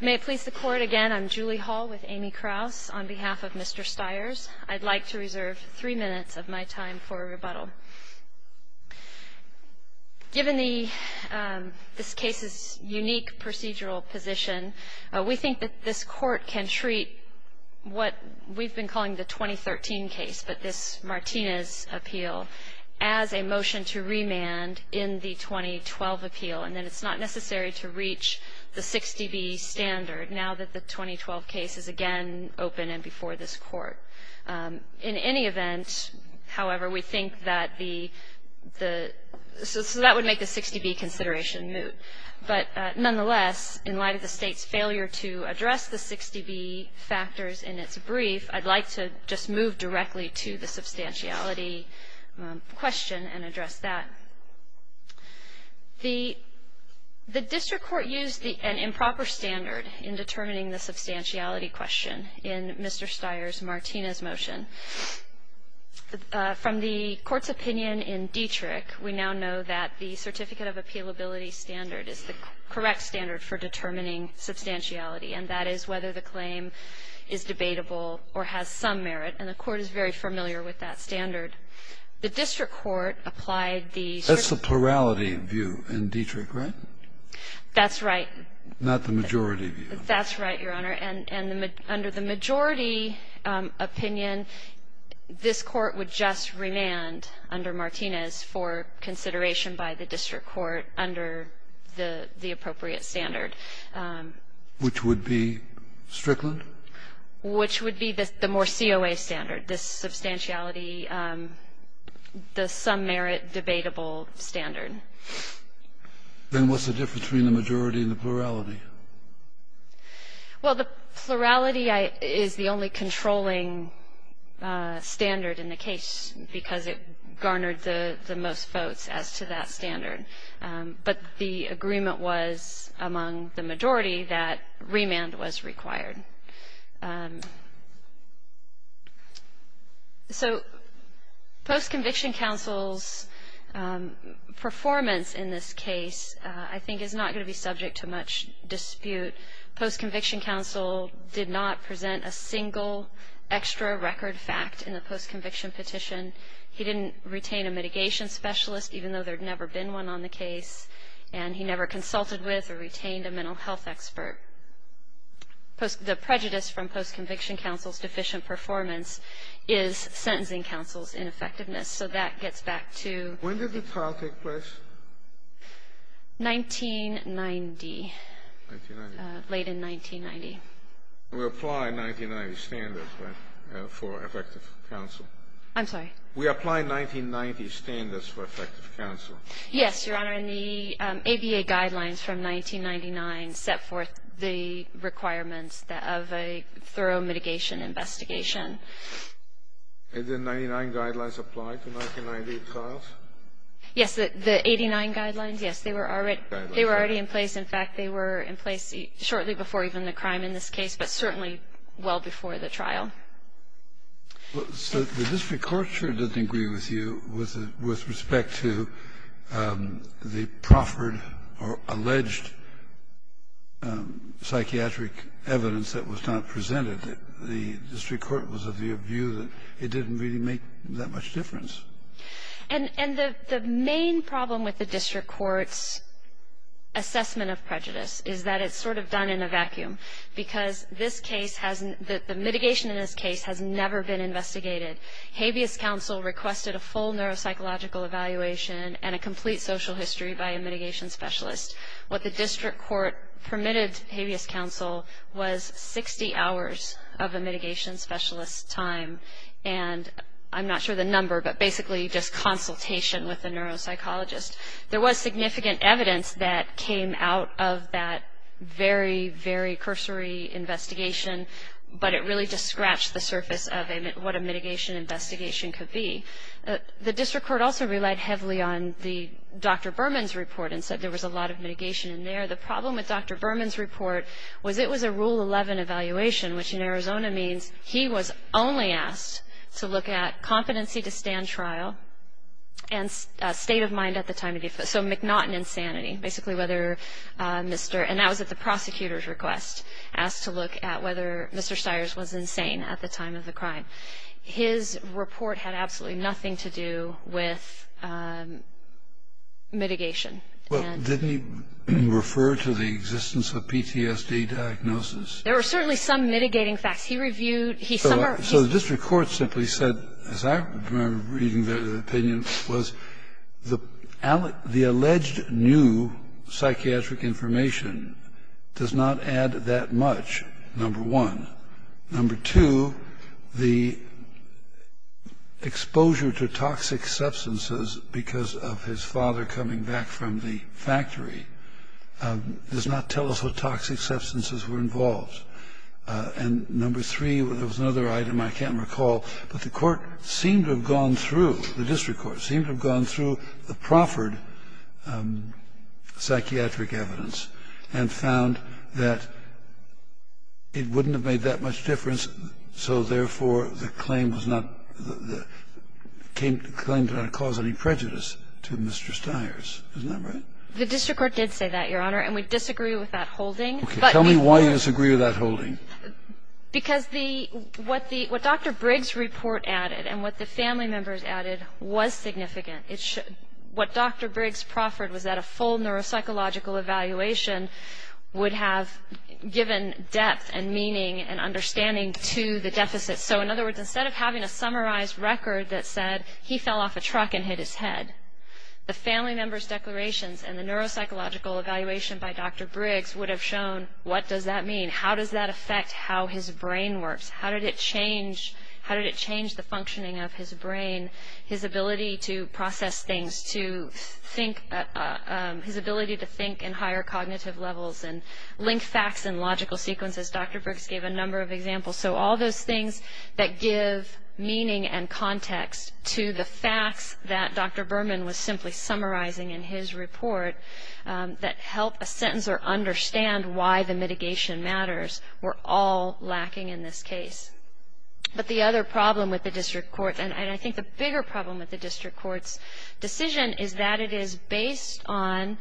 May it please the Court, again, I'm Julie Hall with Amy Krauss. On behalf of Mr. Styers, I'd like to reserve three minutes of my time for rebuttal. Given this case's unique procedural position, we think that this Court can treat what we've been calling the 2013 case, but this Martinez appeal, as a motion to remand in the 2012 appeal, and that it's not necessary to reach the 60B standard now that the 2012 case is again open and before this court. In any event, however, we think that the, so that would make the 60B consideration moot. But nonetheless, in light of the State's failure to address the 60B factors in its brief, I'd like to just move directly to the substantiality question and address that. The district court used an improper standard in determining the substantiality question in Mr. Styers' Martinez motion. From the Court's opinion in Dietrich, we now know that the certificate of appealability standard is the correct standard for determining substantiality, and that is whether the claim is debatable or has some merit, and the Court is very familiar with that standard. The district court applied the Strickland. That's the plurality view in Dietrich, right? That's right. Not the majority view. That's right, Your Honor. And under the majority opinion, this Court would just remand under Martinez for consideration by the district court under the appropriate standard. Which would be Strickland? Which would be the more COA standard, the substantiality, the some merit debatable standard. Then what's the difference between the majority and the plurality? Well, the plurality is the only controlling standard in the case because it garnered the most votes as to that standard. But the agreement was among the majority that remand was required. So post-conviction counsel's performance in this case I think is not going to be subject to much dispute. Post-conviction counsel did not present a single extra record fact in the post-conviction petition. He didn't retain a mitigation specialist, even though there had never been one on the case. And he never consulted with or retained a mental health expert. The prejudice from post-conviction counsel's deficient performance is sentencing counsel's ineffectiveness. So that gets back to 1990, late in 1990. We apply 1990 standards for effective counsel. I'm sorry? We apply 1990 standards for effective counsel. Yes, Your Honor. And the ABA guidelines from 1999 set forth the requirements of a thorough mitigation investigation. And the 99 guidelines apply to 1990 trials? Yes. The 89 guidelines, yes. They were already in place. In fact, they were in place shortly before even the crime in this case, but certainly well before the trial. So the district court sure didn't agree with you with respect to the proffered or alleged psychiatric evidence that was not presented. The district court was of the view that it didn't really make that much difference. And the main problem with the district court's assessment of prejudice is that it's sort of done in a vacuum because the mitigation in this case has never been investigated. Habeas counsel requested a full neuropsychological evaluation and a complete social history by a mitigation specialist. What the district court permitted Habeas counsel was 60 hours of a mitigation specialist's time. And I'm not sure the number, but basically just consultation with the neuropsychologist. There was significant evidence that came out of that very, very cursory investigation, but it really just scratched the surface of what a mitigation investigation could be. The district court also relied heavily on Dr. Berman's report and said there was a lot of mitigation in there. The problem with Dr. Berman's report was it was a Rule 11 evaluation, which in Arizona means he was only asked to look at competency to stand trial and state of mind at the time of the offense. So McNaughton insanity, basically whether Mr. And that was at the prosecutor's request, asked to look at whether Mr. Stiers was insane at the time of the crime. His report had absolutely nothing to do with mitigation. Didn't he refer to the existence of PTSD diagnosis? There were certainly some mitigating facts. He reviewed, he summarized. So the district court simply said, as I remember reading the opinion, was the alleged new psychiatric information does not add that much, number one. Number two, the exposure to toxic substances because of his father coming back from the factory does not tell us what toxic substances were involved. And number three, there was another item I can't recall, but the court seemed to have gone through, the district court seemed to have gone through the proffered psychiatric evidence and found that it wouldn't have made that much difference, so therefore the claim was not, the claim did not cause any prejudice to Mr. Stiers. Isn't that right? The district court did say that, Your Honor, and we disagree with that holding. Tell me why you disagree with that holding. Because the, what the, what Dr. Briggs' report added and what the family members added was significant. It should, what Dr. Briggs proffered was that a full neuropsychological evaluation would have given depth and meaning and understanding to the deficit. So in other words, instead of having a summarized record that said he fell off a truck and hit his head, the family members' declarations and the neuropsychological evaluation by Dr. Briggs would have shown what does that mean, how does that affect how his brain works, how did it change, how did it change the functioning of his brain, his ability to process things, to think, his ability to think in higher cognitive levels and link facts and logical sequences. Dr. Briggs gave a number of examples. So all those things that give meaning and context to the facts that Dr. Berman was simply summarizing in his report that help a sentencer understand why the mitigation matters were all lacking in this case. But the other problem with the district court, and I think the bigger problem with the district court's decision is that it is based on,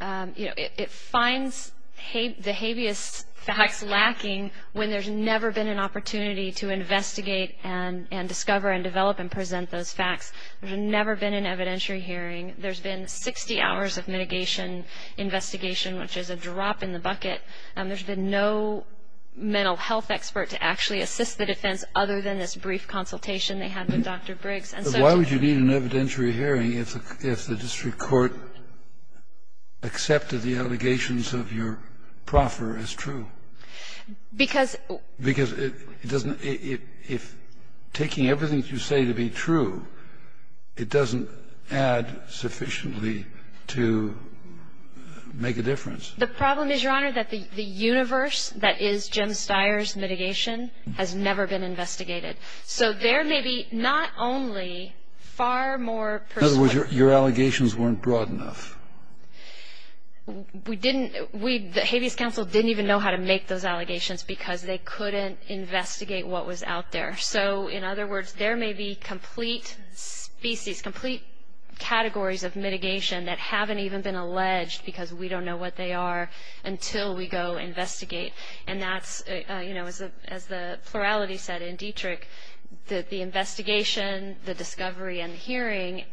you know, it finds the habeas facts lacking when there's never been an opportunity to investigate and discover and develop and present those facts. There's never been an evidentiary hearing. There's been 60 hours of mitigation investigation, which is a drop in the bucket, and there's been no mental health expert to actually assist the defense other than this brief consultation they had with Dr. Briggs. And so it's just... Why would you need an evidentiary hearing if the district court accepted the Because... Because it doesn't... If taking everything that you say to be true, it doesn't add sufficiently to make a difference. The problem is, Your Honor, that the universe that is Jim Steyer's mitigation has never been investigated. So there may be not only far more persuasive... In other words, your allegations weren't broad enough. We didn't... The Habeas Council didn't even know how to make those allegations because they couldn't investigate what was out there. So, in other words, there may be complete species, complete categories of mitigation that haven't even been alleged because we don't know what they are until we go investigate, and that's, you know, as the plurality said in Dietrich, the investigation, the discovery, and the hearing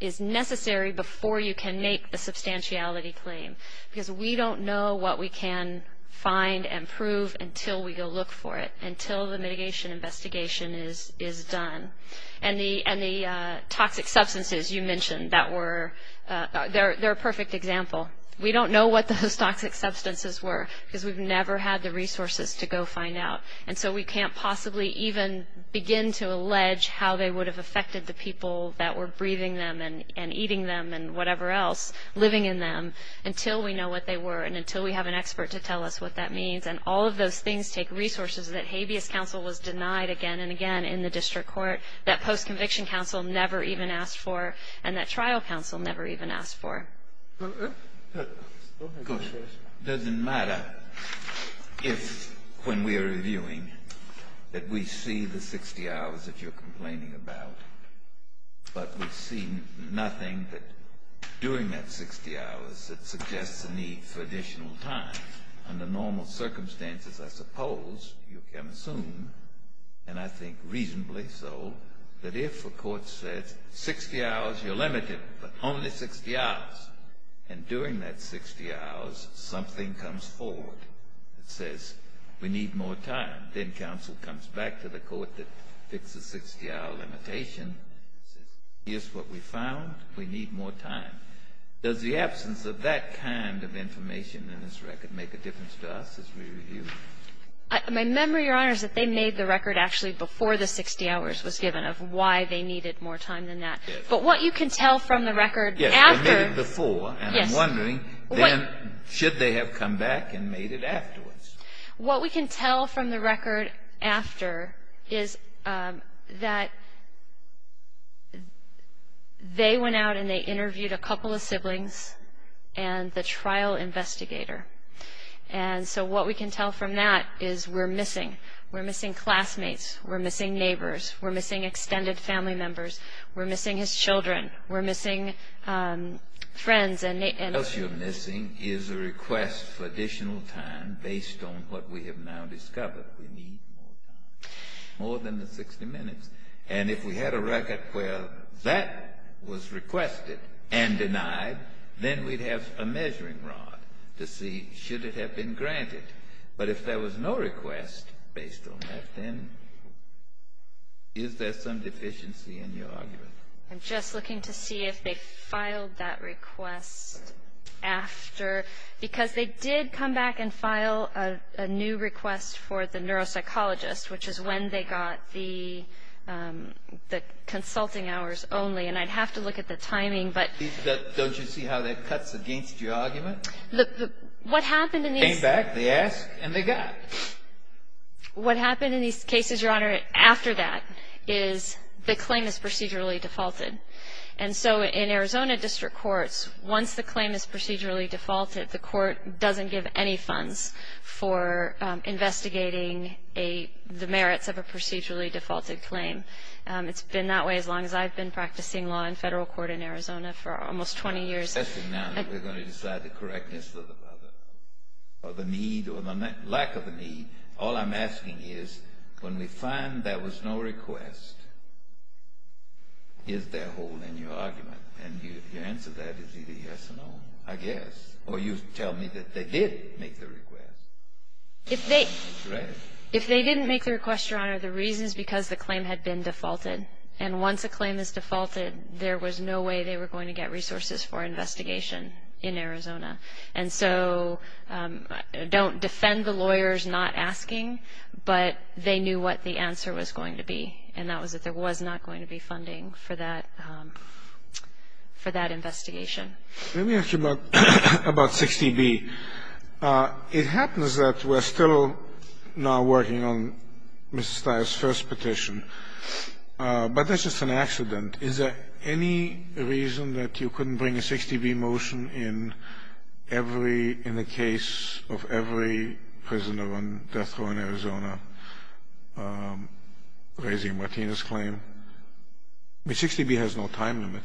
is necessary before you can make the substantiality claim. Because we don't know what we can find and prove until we go look for it, until the mitigation investigation is done. And the toxic substances you mentioned that were... They're a perfect example. We don't know what those toxic substances were because we've never had the resources to go find out. And so we can't possibly even begin to allege how they would have affected the people that were breathing them and eating them and whatever else living in them until we know what they were and until we have an expert to tell us what that means. And all of those things take resources that Habeas Council was denied again and again in the district court, that post-conviction council never even asked for, and that trial council never even asked for. Go ahead. It doesn't matter if when we're reviewing that we see the 60 hours that you're complaining about, but we see nothing that during that 60 hours that suggests a need for additional time. Under normal circumstances, I suppose you can assume, and I think reasonably so, that if a court says 60 hours, you're limited, but only 60 hours, and during that 60 hours something comes forward that says we need more time, then counsel comes back to the court that fits the 60-hour limitation and says here's what we found, we need more time. Does the absence of that kind of information in this record make a difference to us as we review? My memory, Your Honor, is that they made the record actually before the 60 hours was given of why they needed more time than that. But what you can tell from the record after... Yes, they made it before, and I'm wondering then should they have come back and made it afterwards? What we can tell from the record after is that they went out and they interviewed a couple of siblings and the trial investigator. And so what we can tell from that is we're missing. We're missing classmates. We're missing neighbors. We're missing extended family members. We're missing his children. We're missing friends and... What else you're missing is a request for additional time based on what we have now discovered. We need more time, more than the 60 minutes. And if we had a record where that was requested and denied, then we'd have a measuring rod to see should it have been granted. But if there was no request based on that, then is there some deficiency in your argument? I'm just looking to see if they filed that request after, because they did come back and file a new request for the neuropsychologist, which is when they got the consulting hours only. And I'd have to look at the timing, but... Don't you see how that cuts against your argument? What happened in these... Came back, they asked, and they got it. What happened in these cases, Your Honor, after that is the claim is procedurally defaulted. And so in Arizona district courts, once the claim is procedurally defaulted, the court doesn't give any funds for investigating the merits of a procedurally defaulted claim. It's been that way as long as I've been practicing law in federal court in Arizona for almost 20 years. It's interesting now that we're going to decide the correctness of the other, or the need or the lack of the need. All I'm asking is, when we find there was no request, is there a hole in your argument? And your answer to that is either yes or no, I guess. Or you tell me that they did make the request. If they didn't make the request, Your Honor, the reason is because the claim had been defaulted. And once a claim is defaulted, there was no way they were going to get resources for investigation in Arizona. And so don't defend the lawyers not asking, but they knew what the answer was going to be, and that was that there was not going to be funding for that investigation. Let me ask you about 60B. It happens that we're still now working on Ms. Steyer's first petition, but that's just an accident. Is there any reason that you couldn't bring a 60B motion in every — in the case of every prisoner on death row in Arizona raising Martinez's claim? I mean, 60B has no time limit,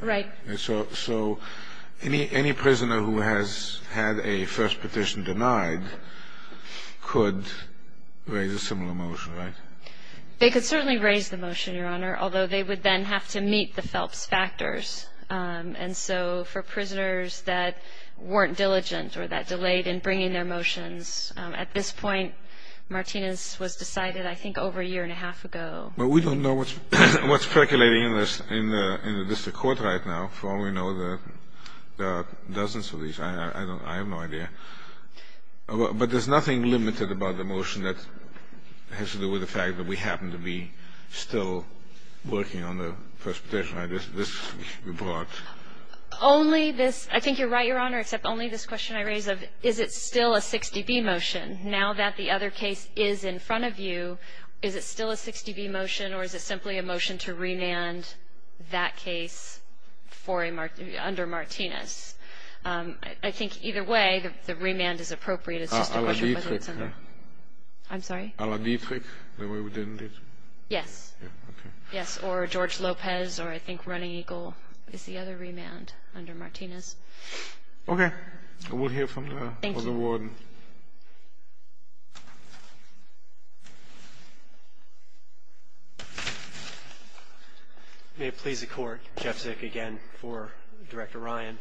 right? Right. So any prisoner who has had a first petition denied could raise a similar motion, right? They could certainly raise the motion, Your Honor, although they would then have to meet the Phelps factors. And so for prisoners that weren't diligent or that delayed in bringing their motions, at this point Martinez was decided I think over a year and a half ago. But we don't know what's speculating in this in the district court right now. For all we know, there are dozens of these. I have no idea. But there's nothing limited about the motion that has to do with the fact that we happen to be still working on the first petition. This report. Only this — I think you're right, Your Honor, except only this question I raise of is it still a 60B motion. Now that the other case is in front of you, is it still a 60B motion or is it simply a motion to remand that case under Martinez? I think either way, the remand is appropriate. It's just a question of whether it's under — A la Dietrich. I'm sorry? A la Dietrich, the way we did it. Yes. Yes, or George Lopez or I think Running Eagle is the other remand under Martinez. Okay. We'll hear from the warden. Thank you. May it please the court, Jeff Zick again for Director Ryan.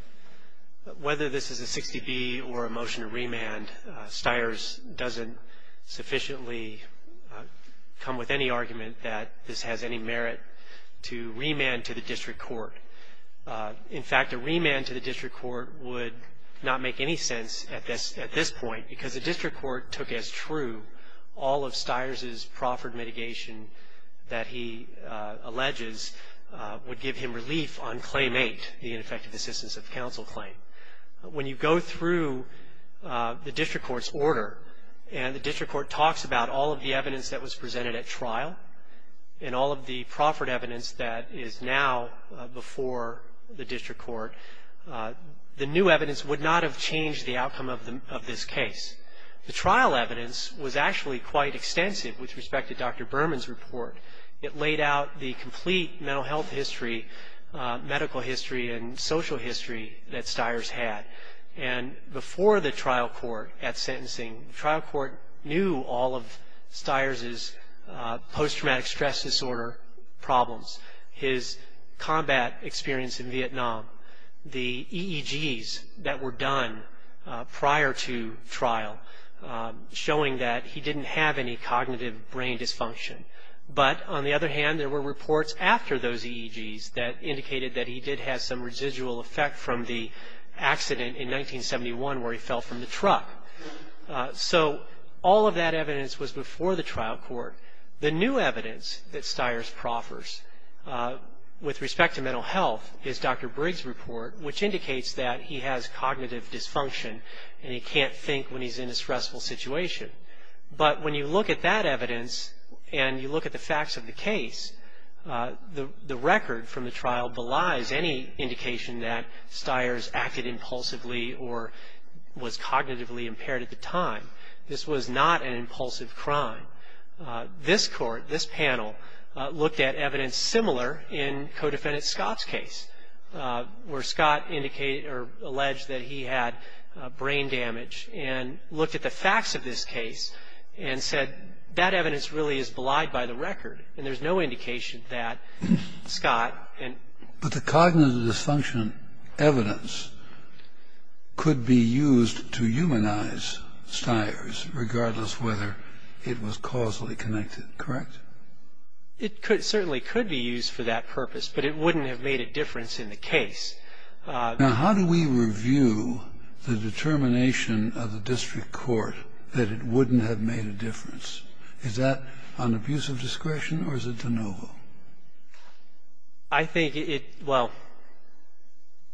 Whether this is a 60B or a motion to remand, Stiers doesn't sufficiently come with any argument that this has any merit to remand to the district court. In fact, a remand to the district court would not make any sense at this point because the district court took as true all of Stiers' proffered mitigation that he alleges would give him relief on Claim 8, the ineffective assistance of counsel claim. When you go through the district court's order and the district court talks about all of the evidence that was presented at trial and all of the proffered evidence that is now before the district court, the new evidence would not have changed the outcome of this case. The trial evidence was actually quite extensive with respect to Dr. Berman's report. It laid out the complete mental health history, medical history, and social history that Stiers had. Before the trial court at sentencing, the trial court knew all of Stiers' post-traumatic stress disorder problems, his combat experience in Vietnam, the EEGs that were done prior to trial, showing that he didn't have any cognitive brain dysfunction. But on the other hand, there were reports after those EEGs that indicated that he did have some residual effect from the accident in 1971 where he fell from the truck. So all of that evidence was before the trial court. The new evidence that Stiers proffers with respect to mental health is Dr. Briggs' report, which indicates that he has cognitive dysfunction and he can't think when he's in a stressful situation. But when you look at that evidence and you look at the facts of the case, the record from the trial belies any indication that Stiers acted impulsively or was cognitively impaired at the time. This was not an impulsive crime. This court, this panel, looked at evidence similar in co-defendant Scott's case where Scott alleged that he had brain damage and looked at the facts of this case and said that evidence really is belied by the record and there's no indication that Scott and... But the cognitive dysfunction evidence could be used to humanize Stiers regardless whether it was causally connected, correct? It certainly could be used for that purpose, but it wouldn't have made a difference in the case. Now, how do we review the determination of the district court that it wouldn't have made a difference? Is that an abuse of discretion or is it de novo? I think it, well,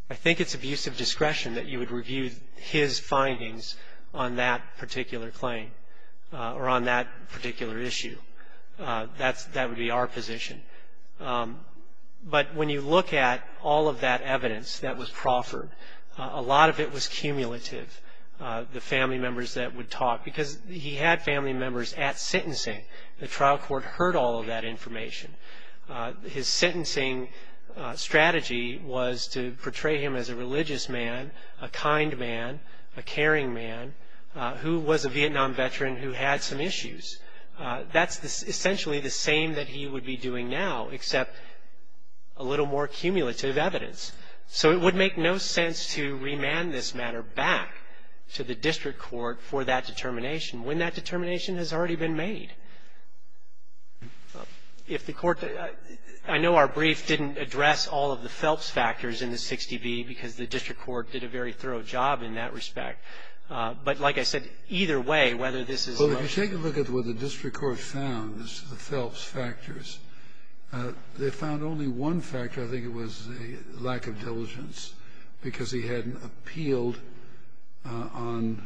I think it's abuse of discretion that you would review his findings on that particular claim or on that particular issue. That would be our position. But when you look at all of that evidence that was proffered, a lot of it was cumulative, the family members that would talk because he had family members at sentencing. The trial court heard all of that information. His sentencing strategy was to portray him as a religious man, a kind man, a caring man, who was a Vietnam veteran who had some issues. That's essentially the same that he would be doing now except a little more cumulative evidence. So it would make no sense to remand this matter back to the district court for that determination when that determination has already been made. If the court, I know our brief didn't address all of the Phelps factors in the 60B because the district court did a very thorough job in that respect. But like I said, either way, whether this is a motion. Well, if you take a look at what the district court found, the Phelps factors, they found only one factor, I think it was a lack of diligence, because he hadn't appealed on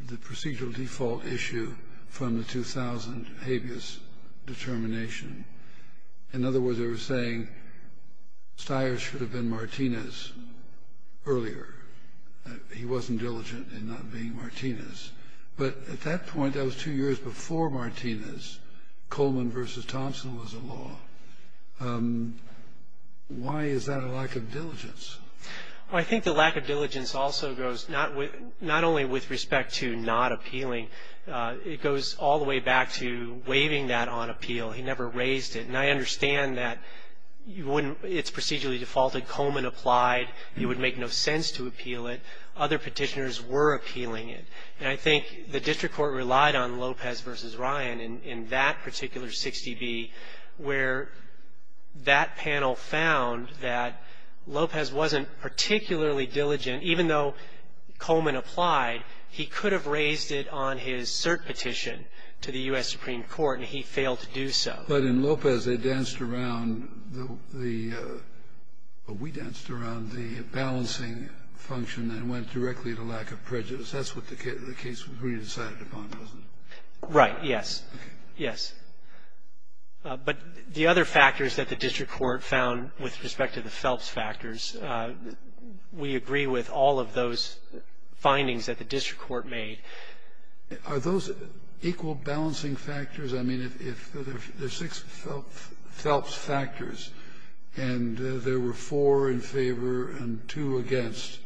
the procedural default issue from the 2000 habeas determination. In other words, they were saying Stiers should have been Martinez earlier. He wasn't diligent in not being Martinez. But at that point, that was two years before Martinez, Coleman versus Thompson was the law. Why is that a lack of diligence? I think the lack of diligence also goes not only with respect to not appealing, it goes all the way back to waiving that on appeal. He never raised it. And I understand that it's procedurally defaulted. Coleman applied. It would make no sense to appeal it. Other petitioners were appealing it. And I think the district court relied on Lopez versus Ryan in that particular 60B, where that panel found that Lopez wasn't particularly diligent. Even though Coleman applied, he could have raised it on his cert petition to the U.S. Supreme Court, and he failed to do so. But in Lopez, they danced around the — we danced around the balancing function that went directly to lack of prejudice. That's what the case was really decided upon, wasn't it? Right, yes. Okay. Yes. But the other factors that the district court found with respect to the Phelps factors, we agree with all of those findings that the district court made. Are those equal balancing factors? I mean, if there's six Phelps factors and there were four in favor and two against,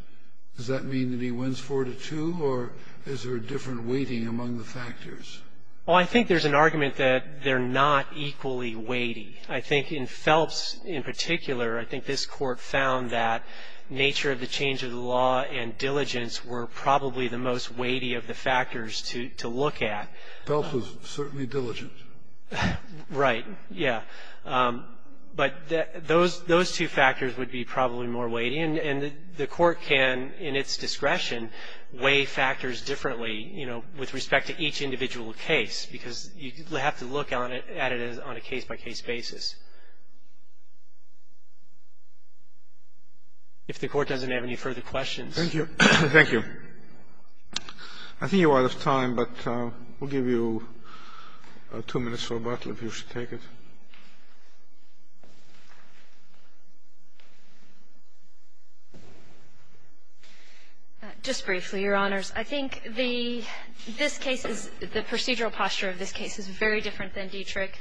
does that mean that he wins 4-2, or is there a different weighting among the factors? Well, I think there's an argument that they're not equally weighty. I think in Phelps in particular, I think this court found that nature of the change of the law and diligence were probably the most weighty of the factors to look at. Phelps was certainly diligent. Right. Yeah. But those two factors would be probably more weighty. And the court can, in its discretion, weigh factors differently, you know, with respect to each individual case because you have to look at it on a case-by-case basis. If the court doesn't have any further questions. Thank you. Thank you. I think you're out of time, but we'll give you two minutes for rebuttal if you should take it. Just briefly, Your Honors. I think the procedural posture of this case is very different than Dietrich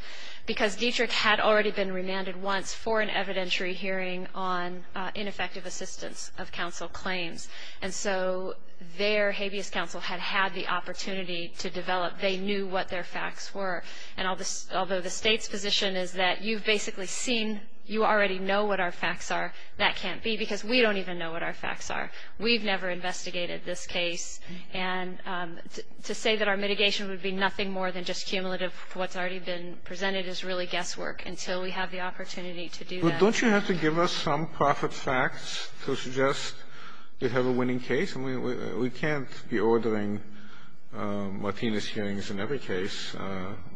because Dietrich had already been remanded once for an evidentiary hearing on ineffective assistance of counsel claims. And so their habeas counsel had had the opportunity to develop. They knew what their facts were. And although the State's position is that you've basically seen, you already know what our facts are, that can't be because we don't even know what our facts are. We've never investigated this case. And to say that our mitigation would be nothing more than just cumulative, what's already been presented is really guesswork until we have the opportunity to do that. But don't you have to give us some profit facts to suggest you have a winning case? I mean, we can't be ordering Martinez hearings in every case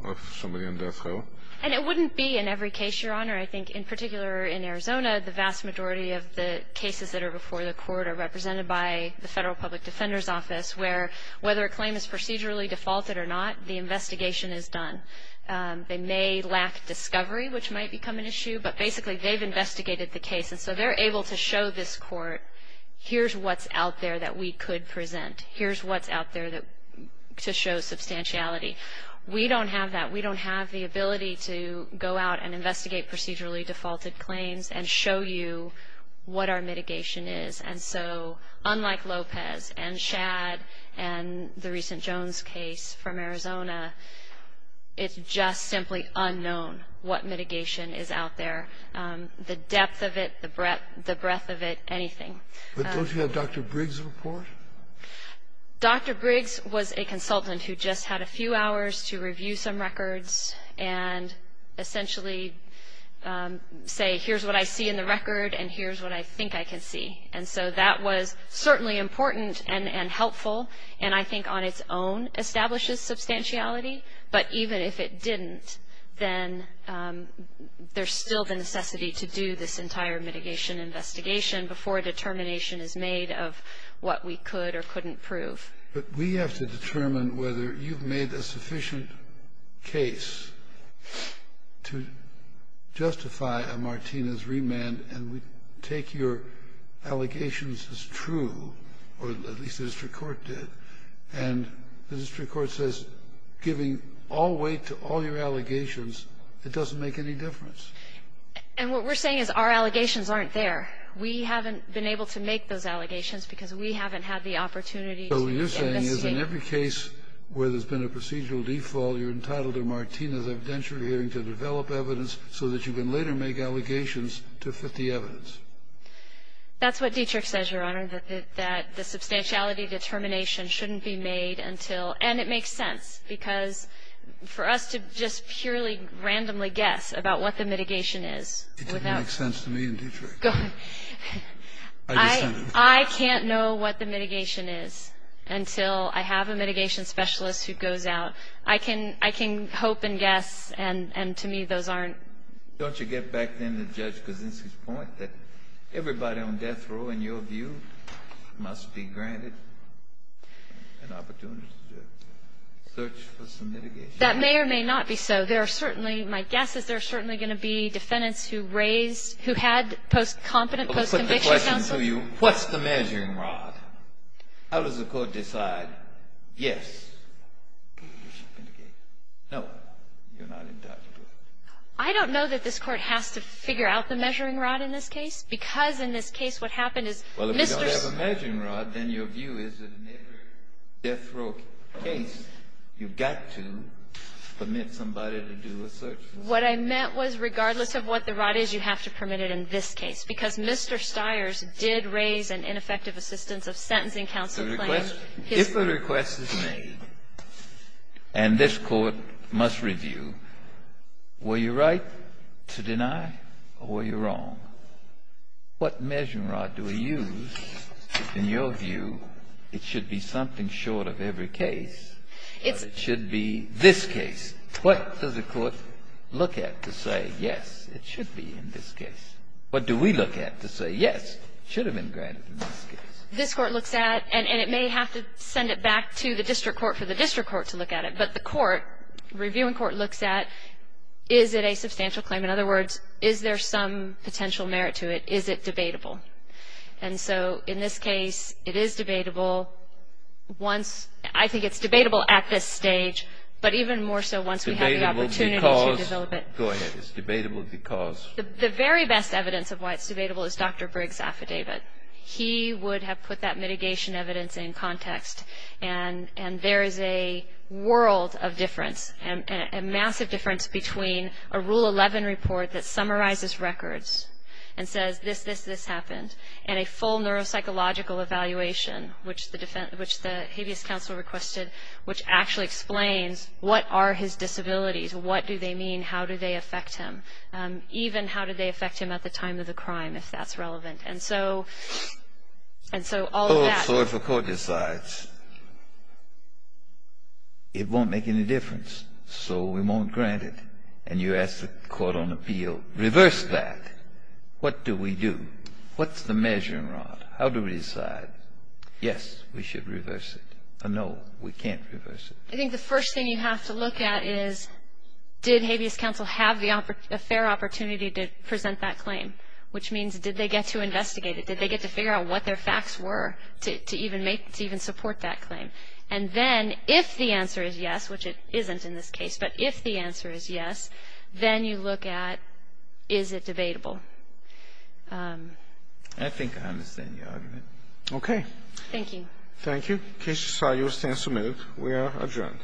of somebody on death row. And it wouldn't be in every case, Your Honor. I think in particular in Arizona, the vast majority of the cases that are before the Court are represented by the Federal Public Defender's Office, where whether a claim is procedurally defaulted or not, the investigation is done. They may lack discovery, which might become an issue. But basically, they've investigated the case. And so they're able to show this Court, here's what's out there that we could present. Here's what's out there to show substantiality. We don't have that. We don't have the ability to go out and investigate procedurally defaulted claims and show you what our mitigation is. And so unlike Lopez and Shadd and the recent Jones case from Arizona, it's just simply unknown what mitigation is out there, the depth of it, the breadth of it, anything. But don't you have Dr. Briggs' report? Dr. Briggs was a consultant who just had a few hours to review some records and essentially say, here's what I see in the record and here's what I think I can see. And so that was certainly important and helpful and I think on its own establishes substantiality. But even if it didn't, then there's still the necessity to do this entire mitigation investigation before a determination is made of what we could or couldn't prove. But we have to determine whether you've made a sufficient case to justify a Martinez remand and we take your allegations as true, or at least the district court did. And the district court says giving all weight to all your allegations, it doesn't make any difference. And what we're saying is our allegations aren't there. We haven't been able to make those allegations because we haven't had the opportunity to investigate. So what you're saying is in every case where there's been a procedural default, you're entitled to a Martinez evidentiary hearing to develop evidence so that you can later make allegations to fit the evidence. That's what Dietrich says, Your Honor, that the substantiality determination shouldn't be made until. And it makes sense because for us to just purely randomly guess about what the mitigation is. It doesn't make sense to me and Dietrich. I can't know what the mitigation is until I have a mitigation specialist who goes out. I can hope and guess and to me those aren't. Don't you get back then to Judge Kaczynski's point that everybody on death row, in your view, must be granted an opportunity to search for some mitigation? That may or may not be so. There are certainly, my guess is there are certainly going to be defendants who raised, who had post-competent, post-conviction counsel. Let me put the question to you. What's the measuring rod? How does the court decide, yes, you should mitigate? No, you're not entitled to it. I don't know that this Court has to figure out the measuring rod in this case, because in this case what happened is Mr. Stiers. Well, if you don't have a measuring rod, then your view is that in every death row case you've got to permit somebody to do a search. What I meant was regardless of what the rod is, you have to permit it in this case, because Mr. Stiers did raise an ineffective assistance of sentencing counsel claim. If a request is made and this Court must review, were you right to deny or were you wrong, what measuring rod do we use? In your view, it should be something short of every case. It should be this case. What does the court look at to say, yes, it should be in this case? What do we look at to say, yes, it should have been granted in this case? This Court looks at, and it may have to send it back to the district court for the district court to look at it, but the court, reviewing court looks at, is it a substantial claim? In other words, is there some potential merit to it? Is it debatable? And so in this case it is debatable once, I think it's debatable at this stage, but even more so once we have the opportunity to develop it. Go ahead. It's debatable because? The very best evidence of why it's debatable is Dr. Briggs' affidavit. He would have put that mitigation evidence in context, and there is a world of difference, a massive difference between a Rule 11 report that summarizes records and says this, this, this happened, and a full neuropsychological evaluation, which the habeas counsel requested, which actually explains what are his disabilities? What do they mean? How do they affect him? Even how do they affect him at the time of the crime, if that's relevant? And so all of that. So if a court decides it won't make any difference, so we won't grant it, and you ask the court on appeal, reverse that. What do we do? What's the measuring rod? How do we decide? Yes, we should reverse it. No, we can't reverse it. I think the first thing you have to look at is did habeas counsel have the fair opportunity to present that claim, which means did they get to investigate it? Did they get to figure out what their facts were to even support that claim? And then if the answer is yes, which it isn't in this case, but if the answer is yes, then you look at is it debatable. I think I understand your argument. Okay. Thank you. Thank you. In case you saw yours, stand submitted. We are adjourned.